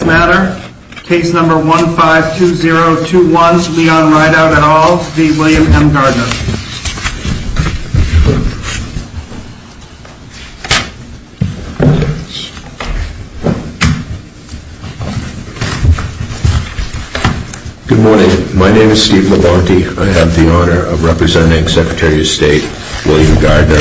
Good morning. My name is Steve Labonte. I have the honor of representing Secretary of State William Gardner,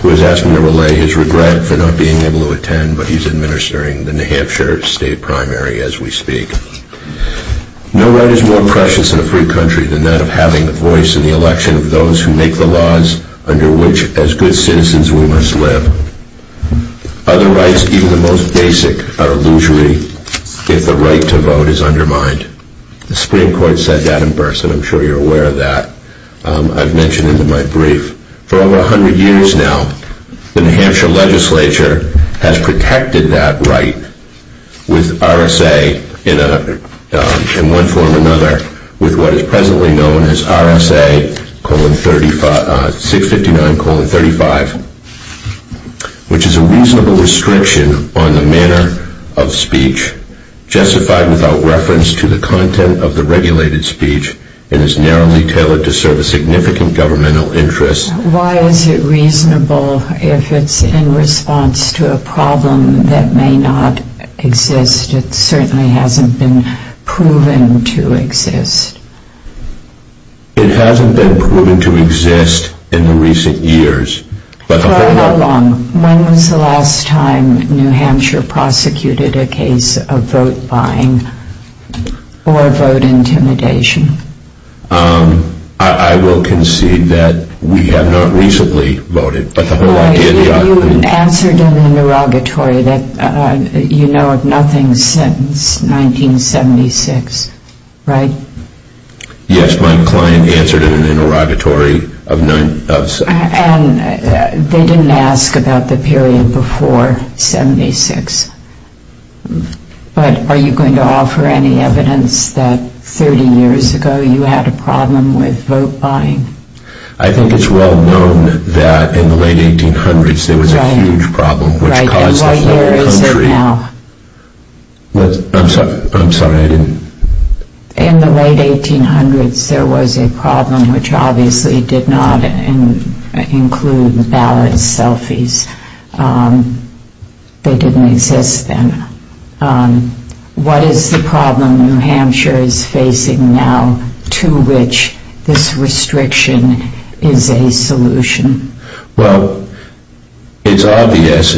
who is asking to relay his regret for not being able to attend, but he's administering the New Hampshire State President's Office. No right is more precious in a free country than that of having the voice in the election of those who make the laws under which, as good citizens, we must live. Other rights, even the most basic, are illusory if the right to vote is undermined. The Supreme Court said that in person. I'm sure you're aware of that. I've mentioned it in my brief. For over 100 years now, the New Hampshire legislature has protected that right with RSA in one form or another with what is presently known as RSA 659-35, which is a reasonable restriction on the manner of speech, justified without reference to the content of the regulated speech, and is narrowly tailored to serve a significant governmental interest. Why is it reasonable if it's in response to a problem that may not exist? It certainly hasn't been proven to exist. It hasn't been proven to exist in the recent years. For how long? When was the last time New Hampshire prosecuted a case of vote buying or vote intimidation? I will concede that we have not recently voted. You answered in an interrogatory that you know of nothing since 1976, right? Yes, my client answered in an interrogatory. They didn't ask about the period before 1976. But are you going to offer any evidence that 30 years ago you had a problem with vote buying? I think it's well known that in the late 1800s there was a huge problem which caused us to have a country... Right, and what year is it now? I'm sorry, I didn't... In the late 1800s there was a problem which obviously did not include ballot selfies. They didn't exist then. What is the problem New Hampshire is facing now to which this restriction is a solution? Well, it's obvious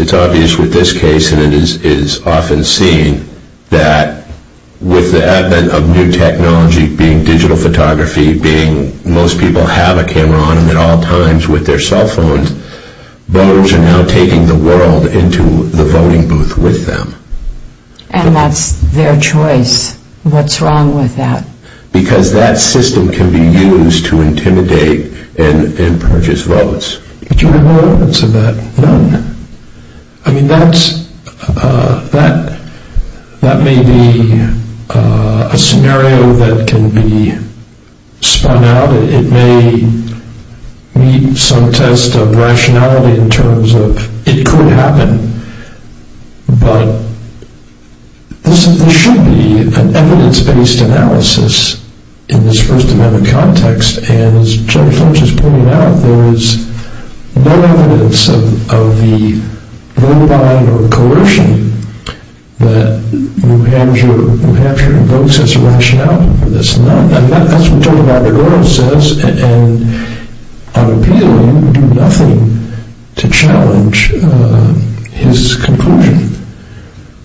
with this case and it is often seen that with the advent of new technology, being digital photography, being most people have a camera on them at all times with their cell phones, voters are now taking the world into the voting booth with them. And that's their choice. What's wrong with that? Because that system can be used to intimidate and purchase votes. Do you have any evidence of that? None. I mean, that may be a scenario that can be spun out. It may meet some test of rationality in terms of it could happen. But this should be an evidence-based analysis in this First Amendment context. And as Judge Lynch has pointed out, there is no evidence of the verbatim or coercion that New Hampshire invokes as a rationale for this. Well, that's what Judge Robert Orr says. And I'm appealing to do nothing to challenge his conclusion.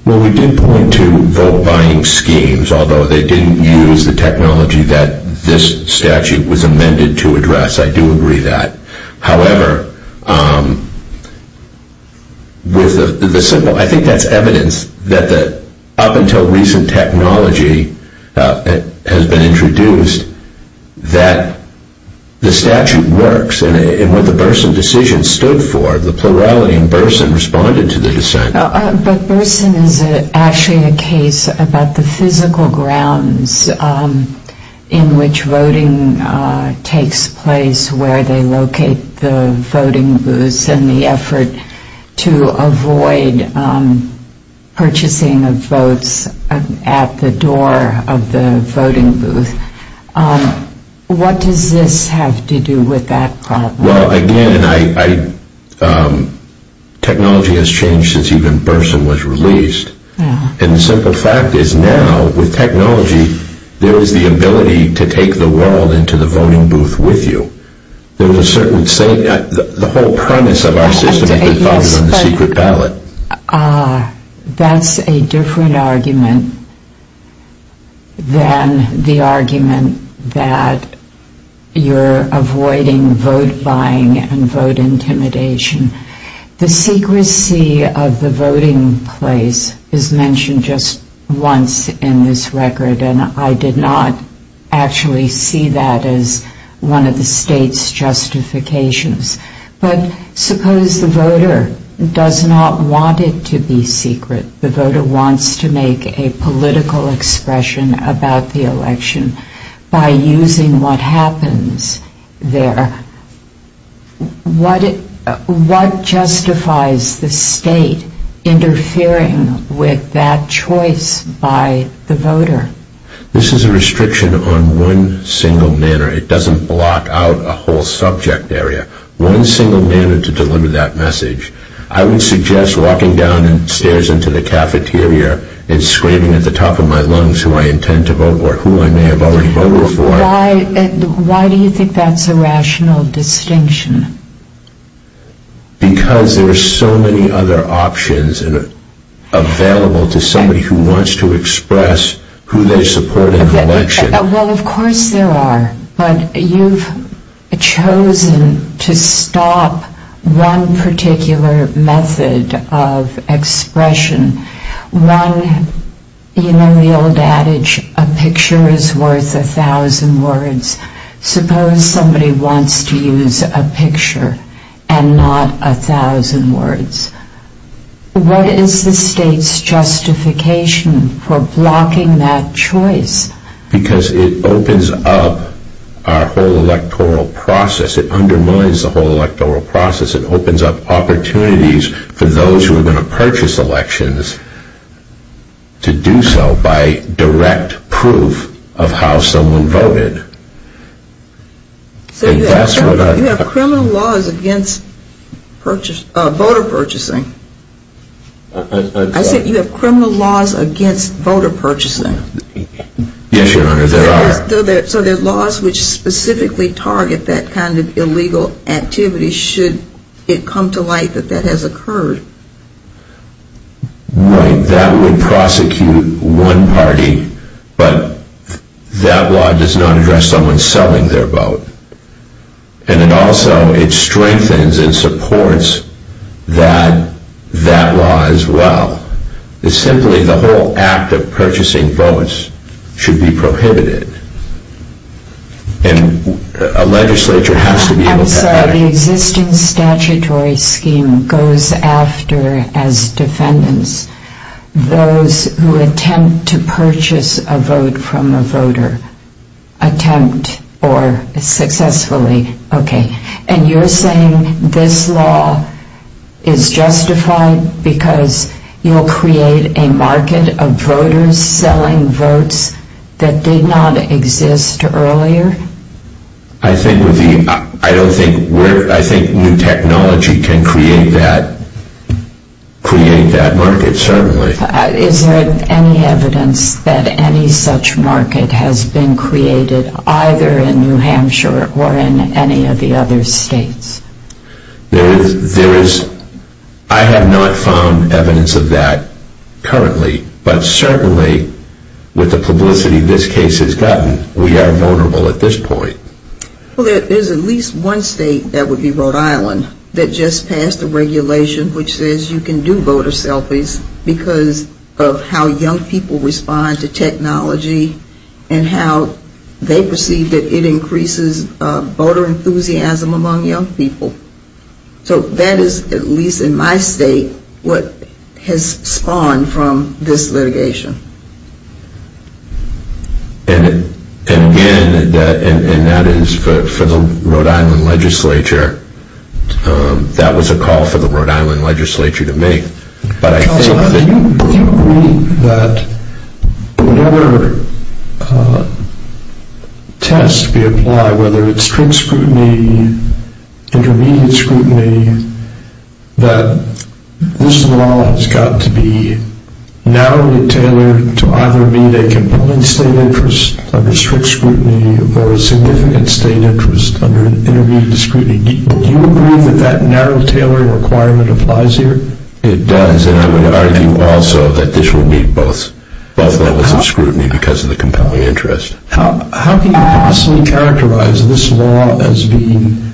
Well, we did point to vote-buying schemes, although they didn't use the technology that this statute was amended to address. I do agree with that. However, I think that's evidence that up until recent technology has been introduced that the statute works. And what the Burson decision stood for, the plurality in Burson responded to the dissent. But Burson is actually a case about the physical grounds in which voting takes place, where they locate the voting booths, and the effort to avoid purchasing of votes at the door of the voting booth. What does this have to do with that problem? Well, again, technology has changed since even Burson was released. And the simple fact is now, with technology, there is the ability to take the world into the voting booth with you. The whole premise of our system has been founded on the secret ballot. Ah, that's a different argument than the argument that you're avoiding vote-buying and vote intimidation. The secrecy of the voting place is mentioned just once in this record, and I did not actually see that as one of the state's justifications. But suppose the voter does not want it to be secret. The voter wants to make a political expression about the election by using what happens there. What justifies the state interfering with that choice by the voter? This is a restriction on one single manner. It doesn't block out a whole subject area. One single manner to deliver that message. I would suggest walking downstairs into the cafeteria and scraping at the top of my lungs who I intend to vote or who I may have already voted for. Why do you think that's a rational distinction? Because there are so many other options available to somebody who wants to express who they support in the election. Well, of course there are. But you've chosen to stop one particular method of expression. One, you know the old adage, a picture is worth a thousand words. Suppose somebody wants to use a picture and not a thousand words. What is the state's justification for blocking that choice? Because it opens up our whole electoral process. It undermines the whole electoral process. It opens up opportunities for those who are going to purchase elections to do so by direct proof of how someone voted. You have criminal laws against voter purchasing. I said you have criminal laws against voter purchasing. Yes, Your Honor, there are. So there are laws which specifically target that kind of illegal activity should it come to light that that has occurred. Right, that would prosecute one party, but that law does not address someone selling their vote. And it also, it strengthens and supports that law as well. It's simply the whole act of purchasing votes should be prohibited. And a legislature has to be able to... I'm sorry, the existing statutory scheme goes after, as defendants, those who attempt to purchase a vote from a voter. Attempt or successfully. Okay, and you're saying this law is justified because you'll create a market of voters selling votes that did not exist earlier? I think new technology can create that market, certainly. Is there any evidence that any such market has been created either in New Hampshire or in any of the other states? There is. I have not found evidence of that currently, but certainly with the publicity this case has gotten, we are vulnerable at this point. Well, there's at least one state, that would be Rhode Island, that just passed a regulation which says you can do voter selfies because of how young people respond to technology and how they perceive that it increases voter enthusiasm among young people. So that is, at least in my state, what has spawned from this litigation. And again, and that is for the Rhode Island legislature, that was a call for the Rhode Island legislature to make. Counsel, do you agree that whatever test we apply, whether it's strict scrutiny, intermediate scrutiny, that this law has got to be narrowly tailored to either meet a compelling state interest under strict scrutiny or a significant state interest under intermediate scrutiny? Do you agree that that narrow tailoring requirement applies here? It does, and I would argue also that this would meet both levels of scrutiny because of the compelling interest. How can you possibly characterize this law as being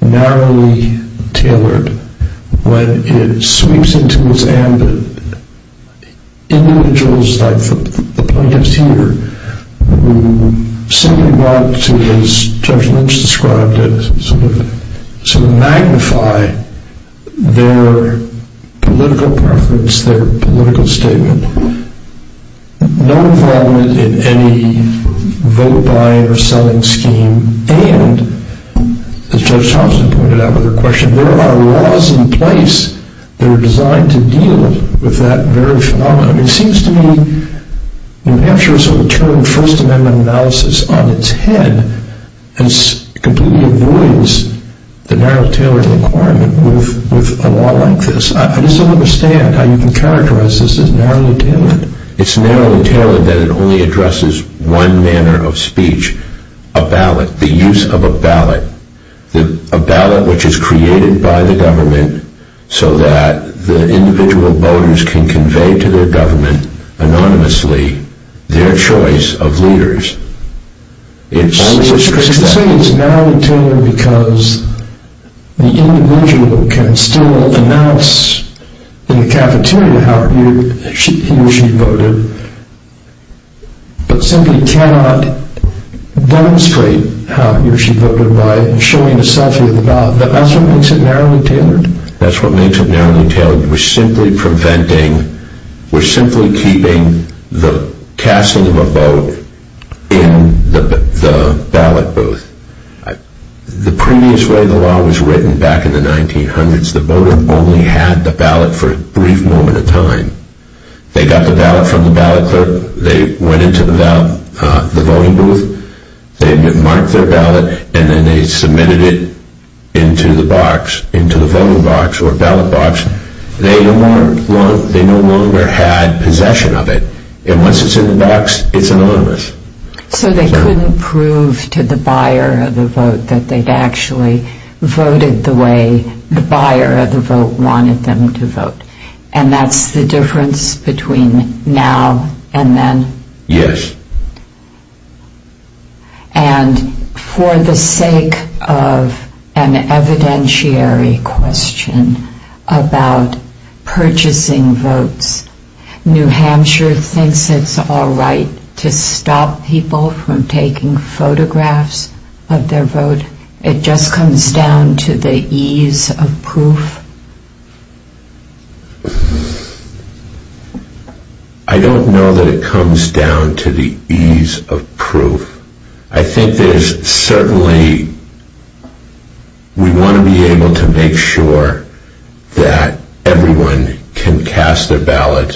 narrowly tailored when it sweeps into its ambit individuals like the plaintiffs here who simply want to, as Judge Lynch described it, sort of magnify their political preference, their political statement. No involvement in any vote buying or selling scheme, and as Judge Thompson pointed out with her question, there are laws in place that are designed to deal with that very phenomenon. It seems to me New Hampshire has sort of turned First Amendment analysis on its head and completely avoids the narrow tailoring requirement with a law like this. I just don't understand how you can characterize this as narrowly tailored. It's narrowly tailored that it only addresses one manner of speech, a ballot, the use of a ballot, a ballot which is created by the government so that the individual voters can convey to their government anonymously their choice of leaders. It's narrowly tailored because the individual can still announce in the cafeteria how he or she voted, but simply cannot demonstrate how he or she voted by showing a selfie of the ballot. That's what makes it narrowly tailored? We're simply preventing, we're simply keeping the casting of a vote in the ballot booth. The previous way the law was written back in the 1900s, the voter only had the ballot for a brief moment of time. They got the ballot from the ballot clerk, they went into the voting booth, they marked their ballot, and then they submitted it into the box, into the voting box or ballot box. They no longer had possession of it. And once it's in the box, it's anonymous. So they couldn't prove to the buyer of the vote that they'd actually voted the way the buyer of the vote wanted them to vote. And that's the difference between now and then? Yes. And for the sake of an evidentiary question about purchasing votes, New Hampshire thinks it's all right to stop people from taking photographs of their vote? It just comes down to the ease of proof? I don't know that it comes down to the ease of proof. I think there's certainly, we want to be able to make sure that everyone can cast their ballot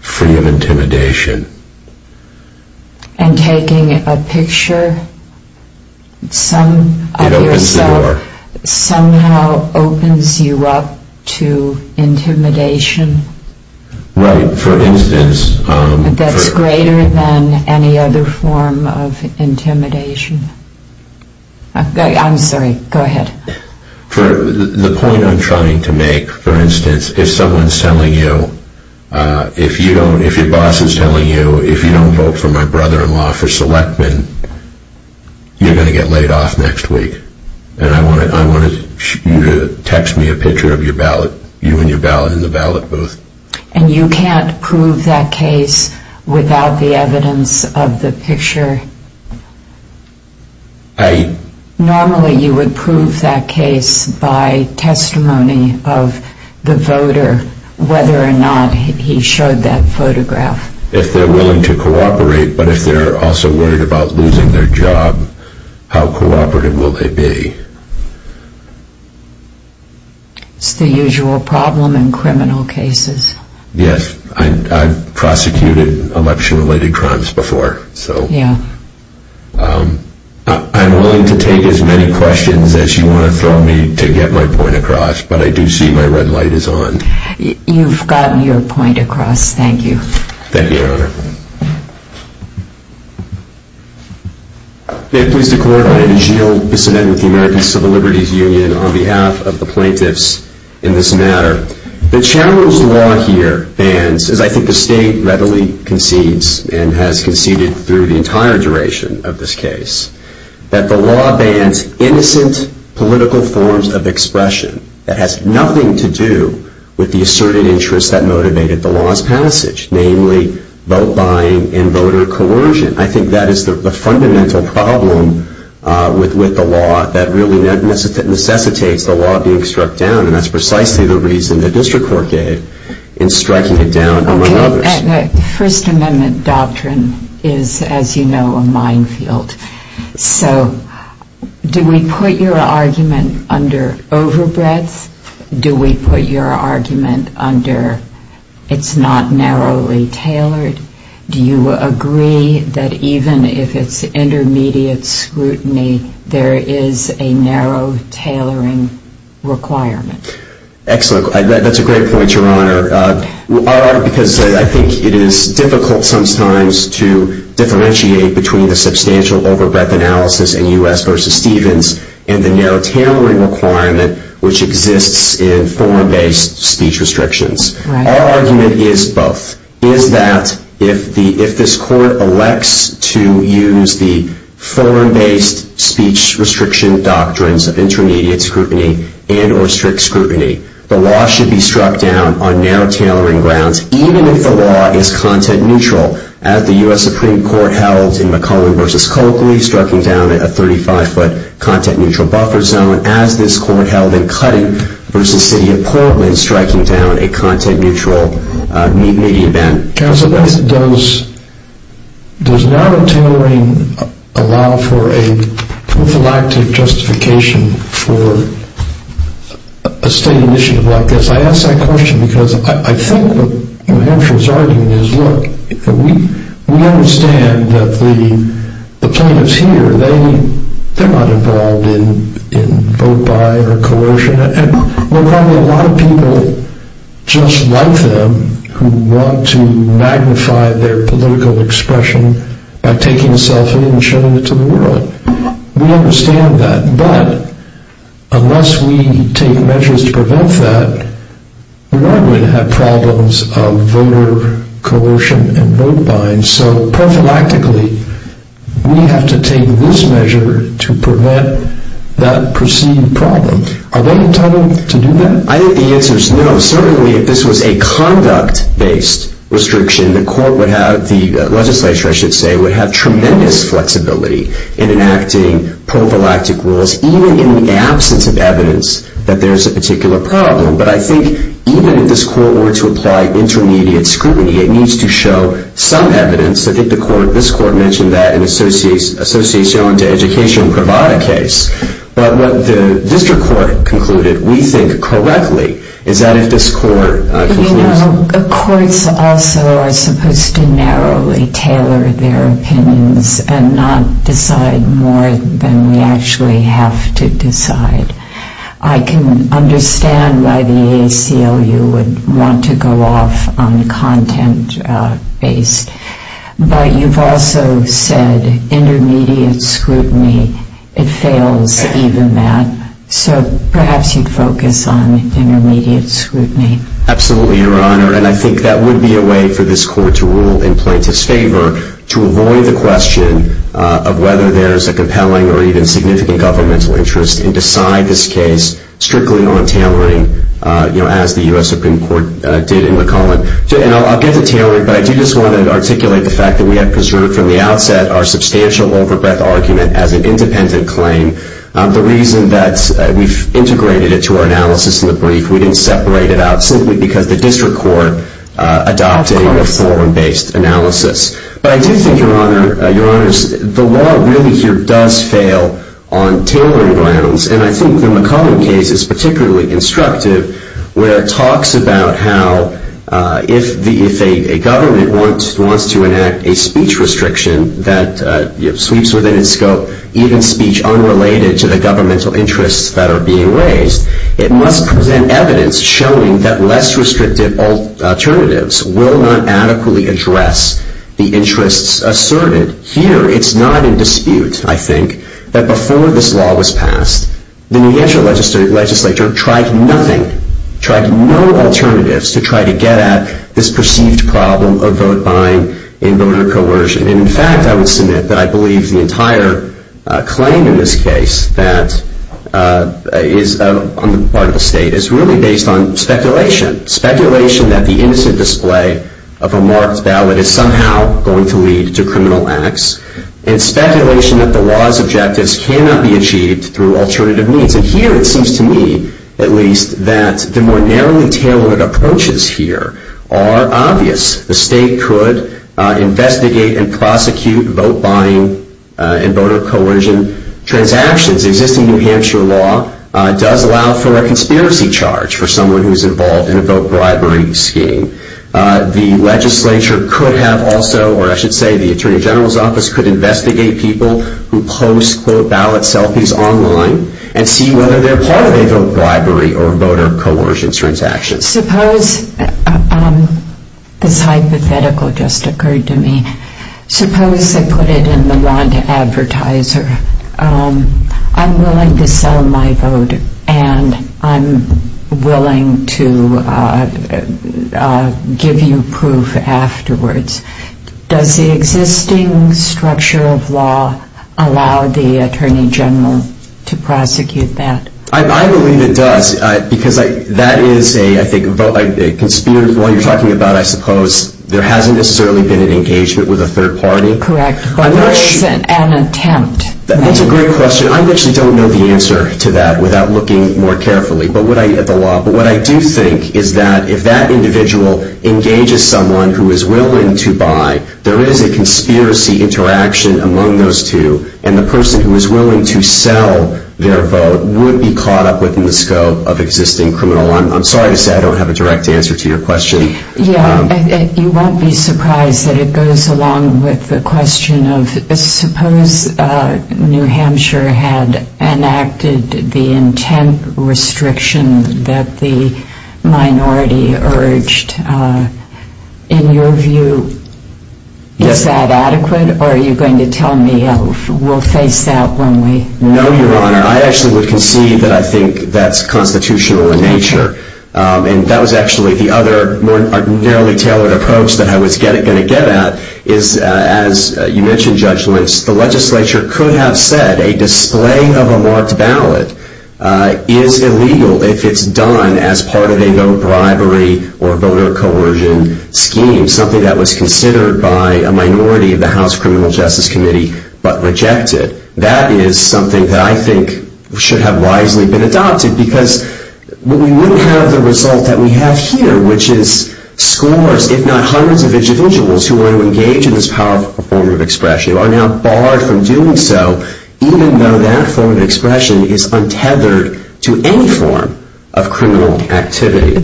free of intimidation. And taking a picture of yourself somehow opens you up to the possibility of opening you up to intimidation that's greater than any other form of intimidation. I'm sorry, go ahead. The point I'm trying to make, for instance, if someone's telling you, if your boss is telling you, if you don't vote for my brother-in-law, for Selectman, you're going to get laid off next week. And I want you to text me a picture of you and your ballot in the ballot booth. And you can't prove that case without the evidence of the picture? Normally you would prove that case by testimony of the voter, whether or not he showed that photograph. If they're willing to cooperate, but if they're also worried about losing their job, how cooperative will they be? It's the usual problem in criminal cases. Yes, I've prosecuted election-related crimes before. I'm willing to take as many questions as you want to throw me to get my point across, but I do see my red light is on. You've gotten your point across, thank you. Thank you, Your Honor. Thank you. May it please the Court, I am Gilles Bissonnette with the American Civil Liberties Union on behalf of the plaintiffs in this matter. The challenged law here bans, as I think the State readily concedes and has conceded through the entire duration of this case, that the law bans innocent political forms of expression namely vote-buying and voter coercion. I think that is the fundamental problem with the law that really necessitates the law being struck down, and that's precisely the reason the District Court did in striking it down among others. The First Amendment doctrine is, as you know, a minefield. So do we put your argument under overbreadth? Do we put your argument under it's not narrowly tailored? Do you agree that even if it's intermediate scrutiny, there is a narrow tailoring requirement? Excellent. That's a great point, Your Honor. Because I think it is difficult sometimes to differentiate between the substantial overbreadth analysis in U.S. v. Stevens and the narrow tailoring requirement which exists in form-based speech restrictions. Our argument is both. It is that if this Court elects to use the form-based speech restriction doctrines of intermediate scrutiny and or strict scrutiny, the law should be struck down on narrow tailoring grounds, even if the law is content neutral. As the U.S. Supreme Court held in McClellan v. Coakley, striking down a 35-foot content-neutral buffer zone. As this Court held in Cutting v. City of Portland, striking down a content-neutral median band. Counsel, does narrow tailoring allow for a prophylactic justification for a state initiative like this? I ask that question because I think what Mahershala is arguing is, look, we understand that the plaintiffs here, they're not involved in vote-by or coercion. And there are probably a lot of people just like them who want to magnify their political expression by taking a selfie and showing it to the world. We understand that. But unless we take measures to prevent that, we are going to have problems of voter coercion and vote-binds. So prophylactically, we have to take this measure to prevent that preceding problem. Are they entitled to do that? I think the answer is no. Certainly, if this was a conduct-based restriction, the court would have, the legislature, I should say, would have tremendous flexibility in enacting prophylactic rules, even in the absence of evidence that there's a particular problem. But I think even if this court were to apply intermediate scrutiny, it needs to show some evidence. I think the court, this court mentioned that in the Associación de Educación Privada case. But what the district court concluded, we think correctly, is that if this court concludes... You know, courts also are supposed to narrowly tailor their opinions and not decide more than we actually have to decide. I can understand why the ACLU would want to go off on content-based. But you've also said intermediate scrutiny, it fails even that. So perhaps you'd focus on intermediate scrutiny. Absolutely, Your Honor. And I think that would be a way for this court to rule in plaintiff's favor to avoid the question of whether there's a compelling or even significant governmental interest and decide this case strictly on tailoring, you know, as the U.S. Supreme Court did in McClellan. And I'll get to tailoring, but I do just want to articulate the fact that we had preserved from the outset our substantial over-breath argument as an independent claim. The reason that we've integrated it to our analysis in the brief, we didn't separate it out simply because the district court adopted a forum-based analysis. But I do think, Your Honor, the law really here does fail on tailoring grounds. And I think the McClellan case is particularly instructive, where it talks about how if a government wants to enact a speech restriction that sweeps within its scope even speech unrelated to the governmental interests that are being raised, it must present evidence showing that less restrictive alternatives will not adequately address the interests asserted. Here, it's not in dispute, I think, that before this law was passed, the New Hampshire legislature tried nothing, tried no alternatives to try to get at this perceived problem of vote buying and voter coercion. And in fact, I would submit that I believe the entire claim in this case that is on the part of the state is really based on speculation, speculation that the innocent display of a marked ballot is somehow going to lead to criminal acts and speculation that the law's objectives cannot be achieved through alternative means. And here it seems to me, at least, that the more narrowly tailored approaches here are obvious. The state could investigate and prosecute vote buying and voter coercion transactions. Existing New Hampshire law does allow for a conspiracy charge for someone who's involved in a vote bribery scheme. The legislature could have also, or I should say the Attorney General's office, could investigate people who post, quote, ballot selfies online and see whether they're part of a vote bribery or voter coercion transaction. Suppose this hypothetical just occurred to me. Suppose they put it in the lawn to advertiser. I'm willing to sell my vote and I'm willing to give you proof afterwards. Does the existing structure of law allow the Attorney General to prosecute that? I believe it does because that is, I think, a vote buying conspiracy. While you're talking about, I suppose, there hasn't necessarily been an engagement with a third party. Correct, but there isn't an attempt. That's a great question. I actually don't know the answer to that without looking more carefully at the law. But what I do think is that if that individual engages someone who is willing to buy, there is a conspiracy interaction among those two, and the person who is willing to sell their vote would be caught up within the scope of existing criminal law. I'm sorry to say I don't have a direct answer to your question. Yeah, you won't be surprised that it goes along with the question of, suppose New Hampshire had enacted the intent restriction that the minority urged. In your view, is that adequate or are you going to tell me we'll face that when we know? No, Your Honor. I actually would concede that I think that's constitutional in nature. And that was actually the other more narrowly tailored approach that I was going to get at, is as you mentioned, Judge Lynch, the legislature could have said a display of a marked ballot is illegal if it's done as part of a vote bribery or voter coercion scheme, something that was considered by a minority of the House Criminal Justice Committee but rejected. That is something that I think should have wisely been adopted because we wouldn't have the result that we have here, which is scores if not hundreds of individuals who are engaged in this powerful form of expression are now barred from doing so even though that form of expression is untethered to any form of criminal activity.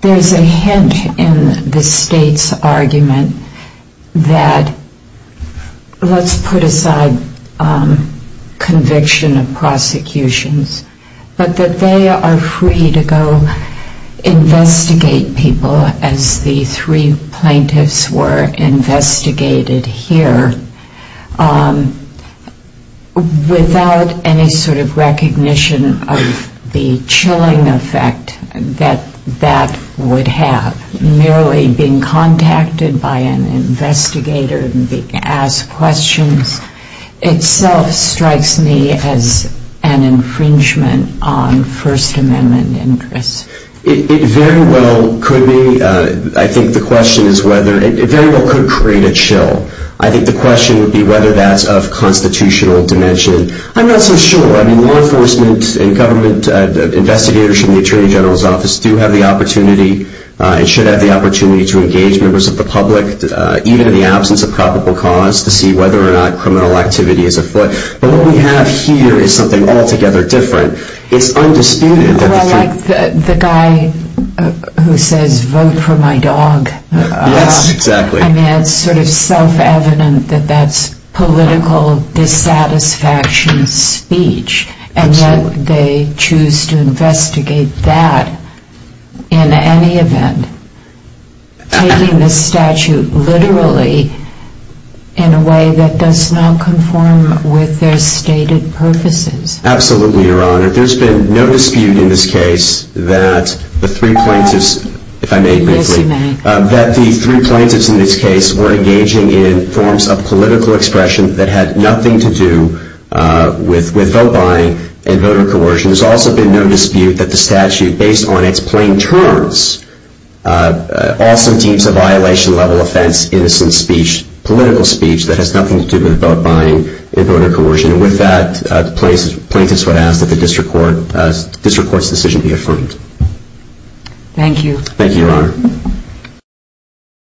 There's a hint in the state's argument that, let's put aside conviction of prosecutions, but that they are free to go investigate people as the three plaintiffs were investigated here without any sort of recognition of the chilling effect that that would have. Merely being contacted by an investigator and being asked questions itself strikes me as an infringement on First Amendment interests. It very well could be. I think the question is whether. It very well could create a chill. I think the question would be whether that's of constitutional dimension. I'm not so sure. I mean, law enforcement and government investigators from the Attorney General's office do have the opportunity and should have the opportunity to engage members of the public, even in the absence of probable cause, to see whether or not criminal activity is afoot. But what we have here is something altogether different. It's undisputed. Well, like the guy who says, vote for my dog. Yes, exactly. I mean, it's sort of self-evident that that's political dissatisfaction speech. Absolutely. And yet they choose to investigate that in any event, taking the statute literally in a way that does not conform with their stated purposes. Absolutely, Your Honor. There's been no dispute in this case that the three plaintiffs, if I may briefly. Yes, you may. That the three plaintiffs in this case were engaging in forms of political expression that had nothing to do with vote buying and voter coercion. There's also been no dispute that the statute, based on its plain terms, also deems a violation-level offense innocent speech, political speech, that has nothing to do with vote buying and voter coercion. And with that, the plaintiffs would ask that the district court's decision be affirmed. Thank you. Thank you, Your Honor.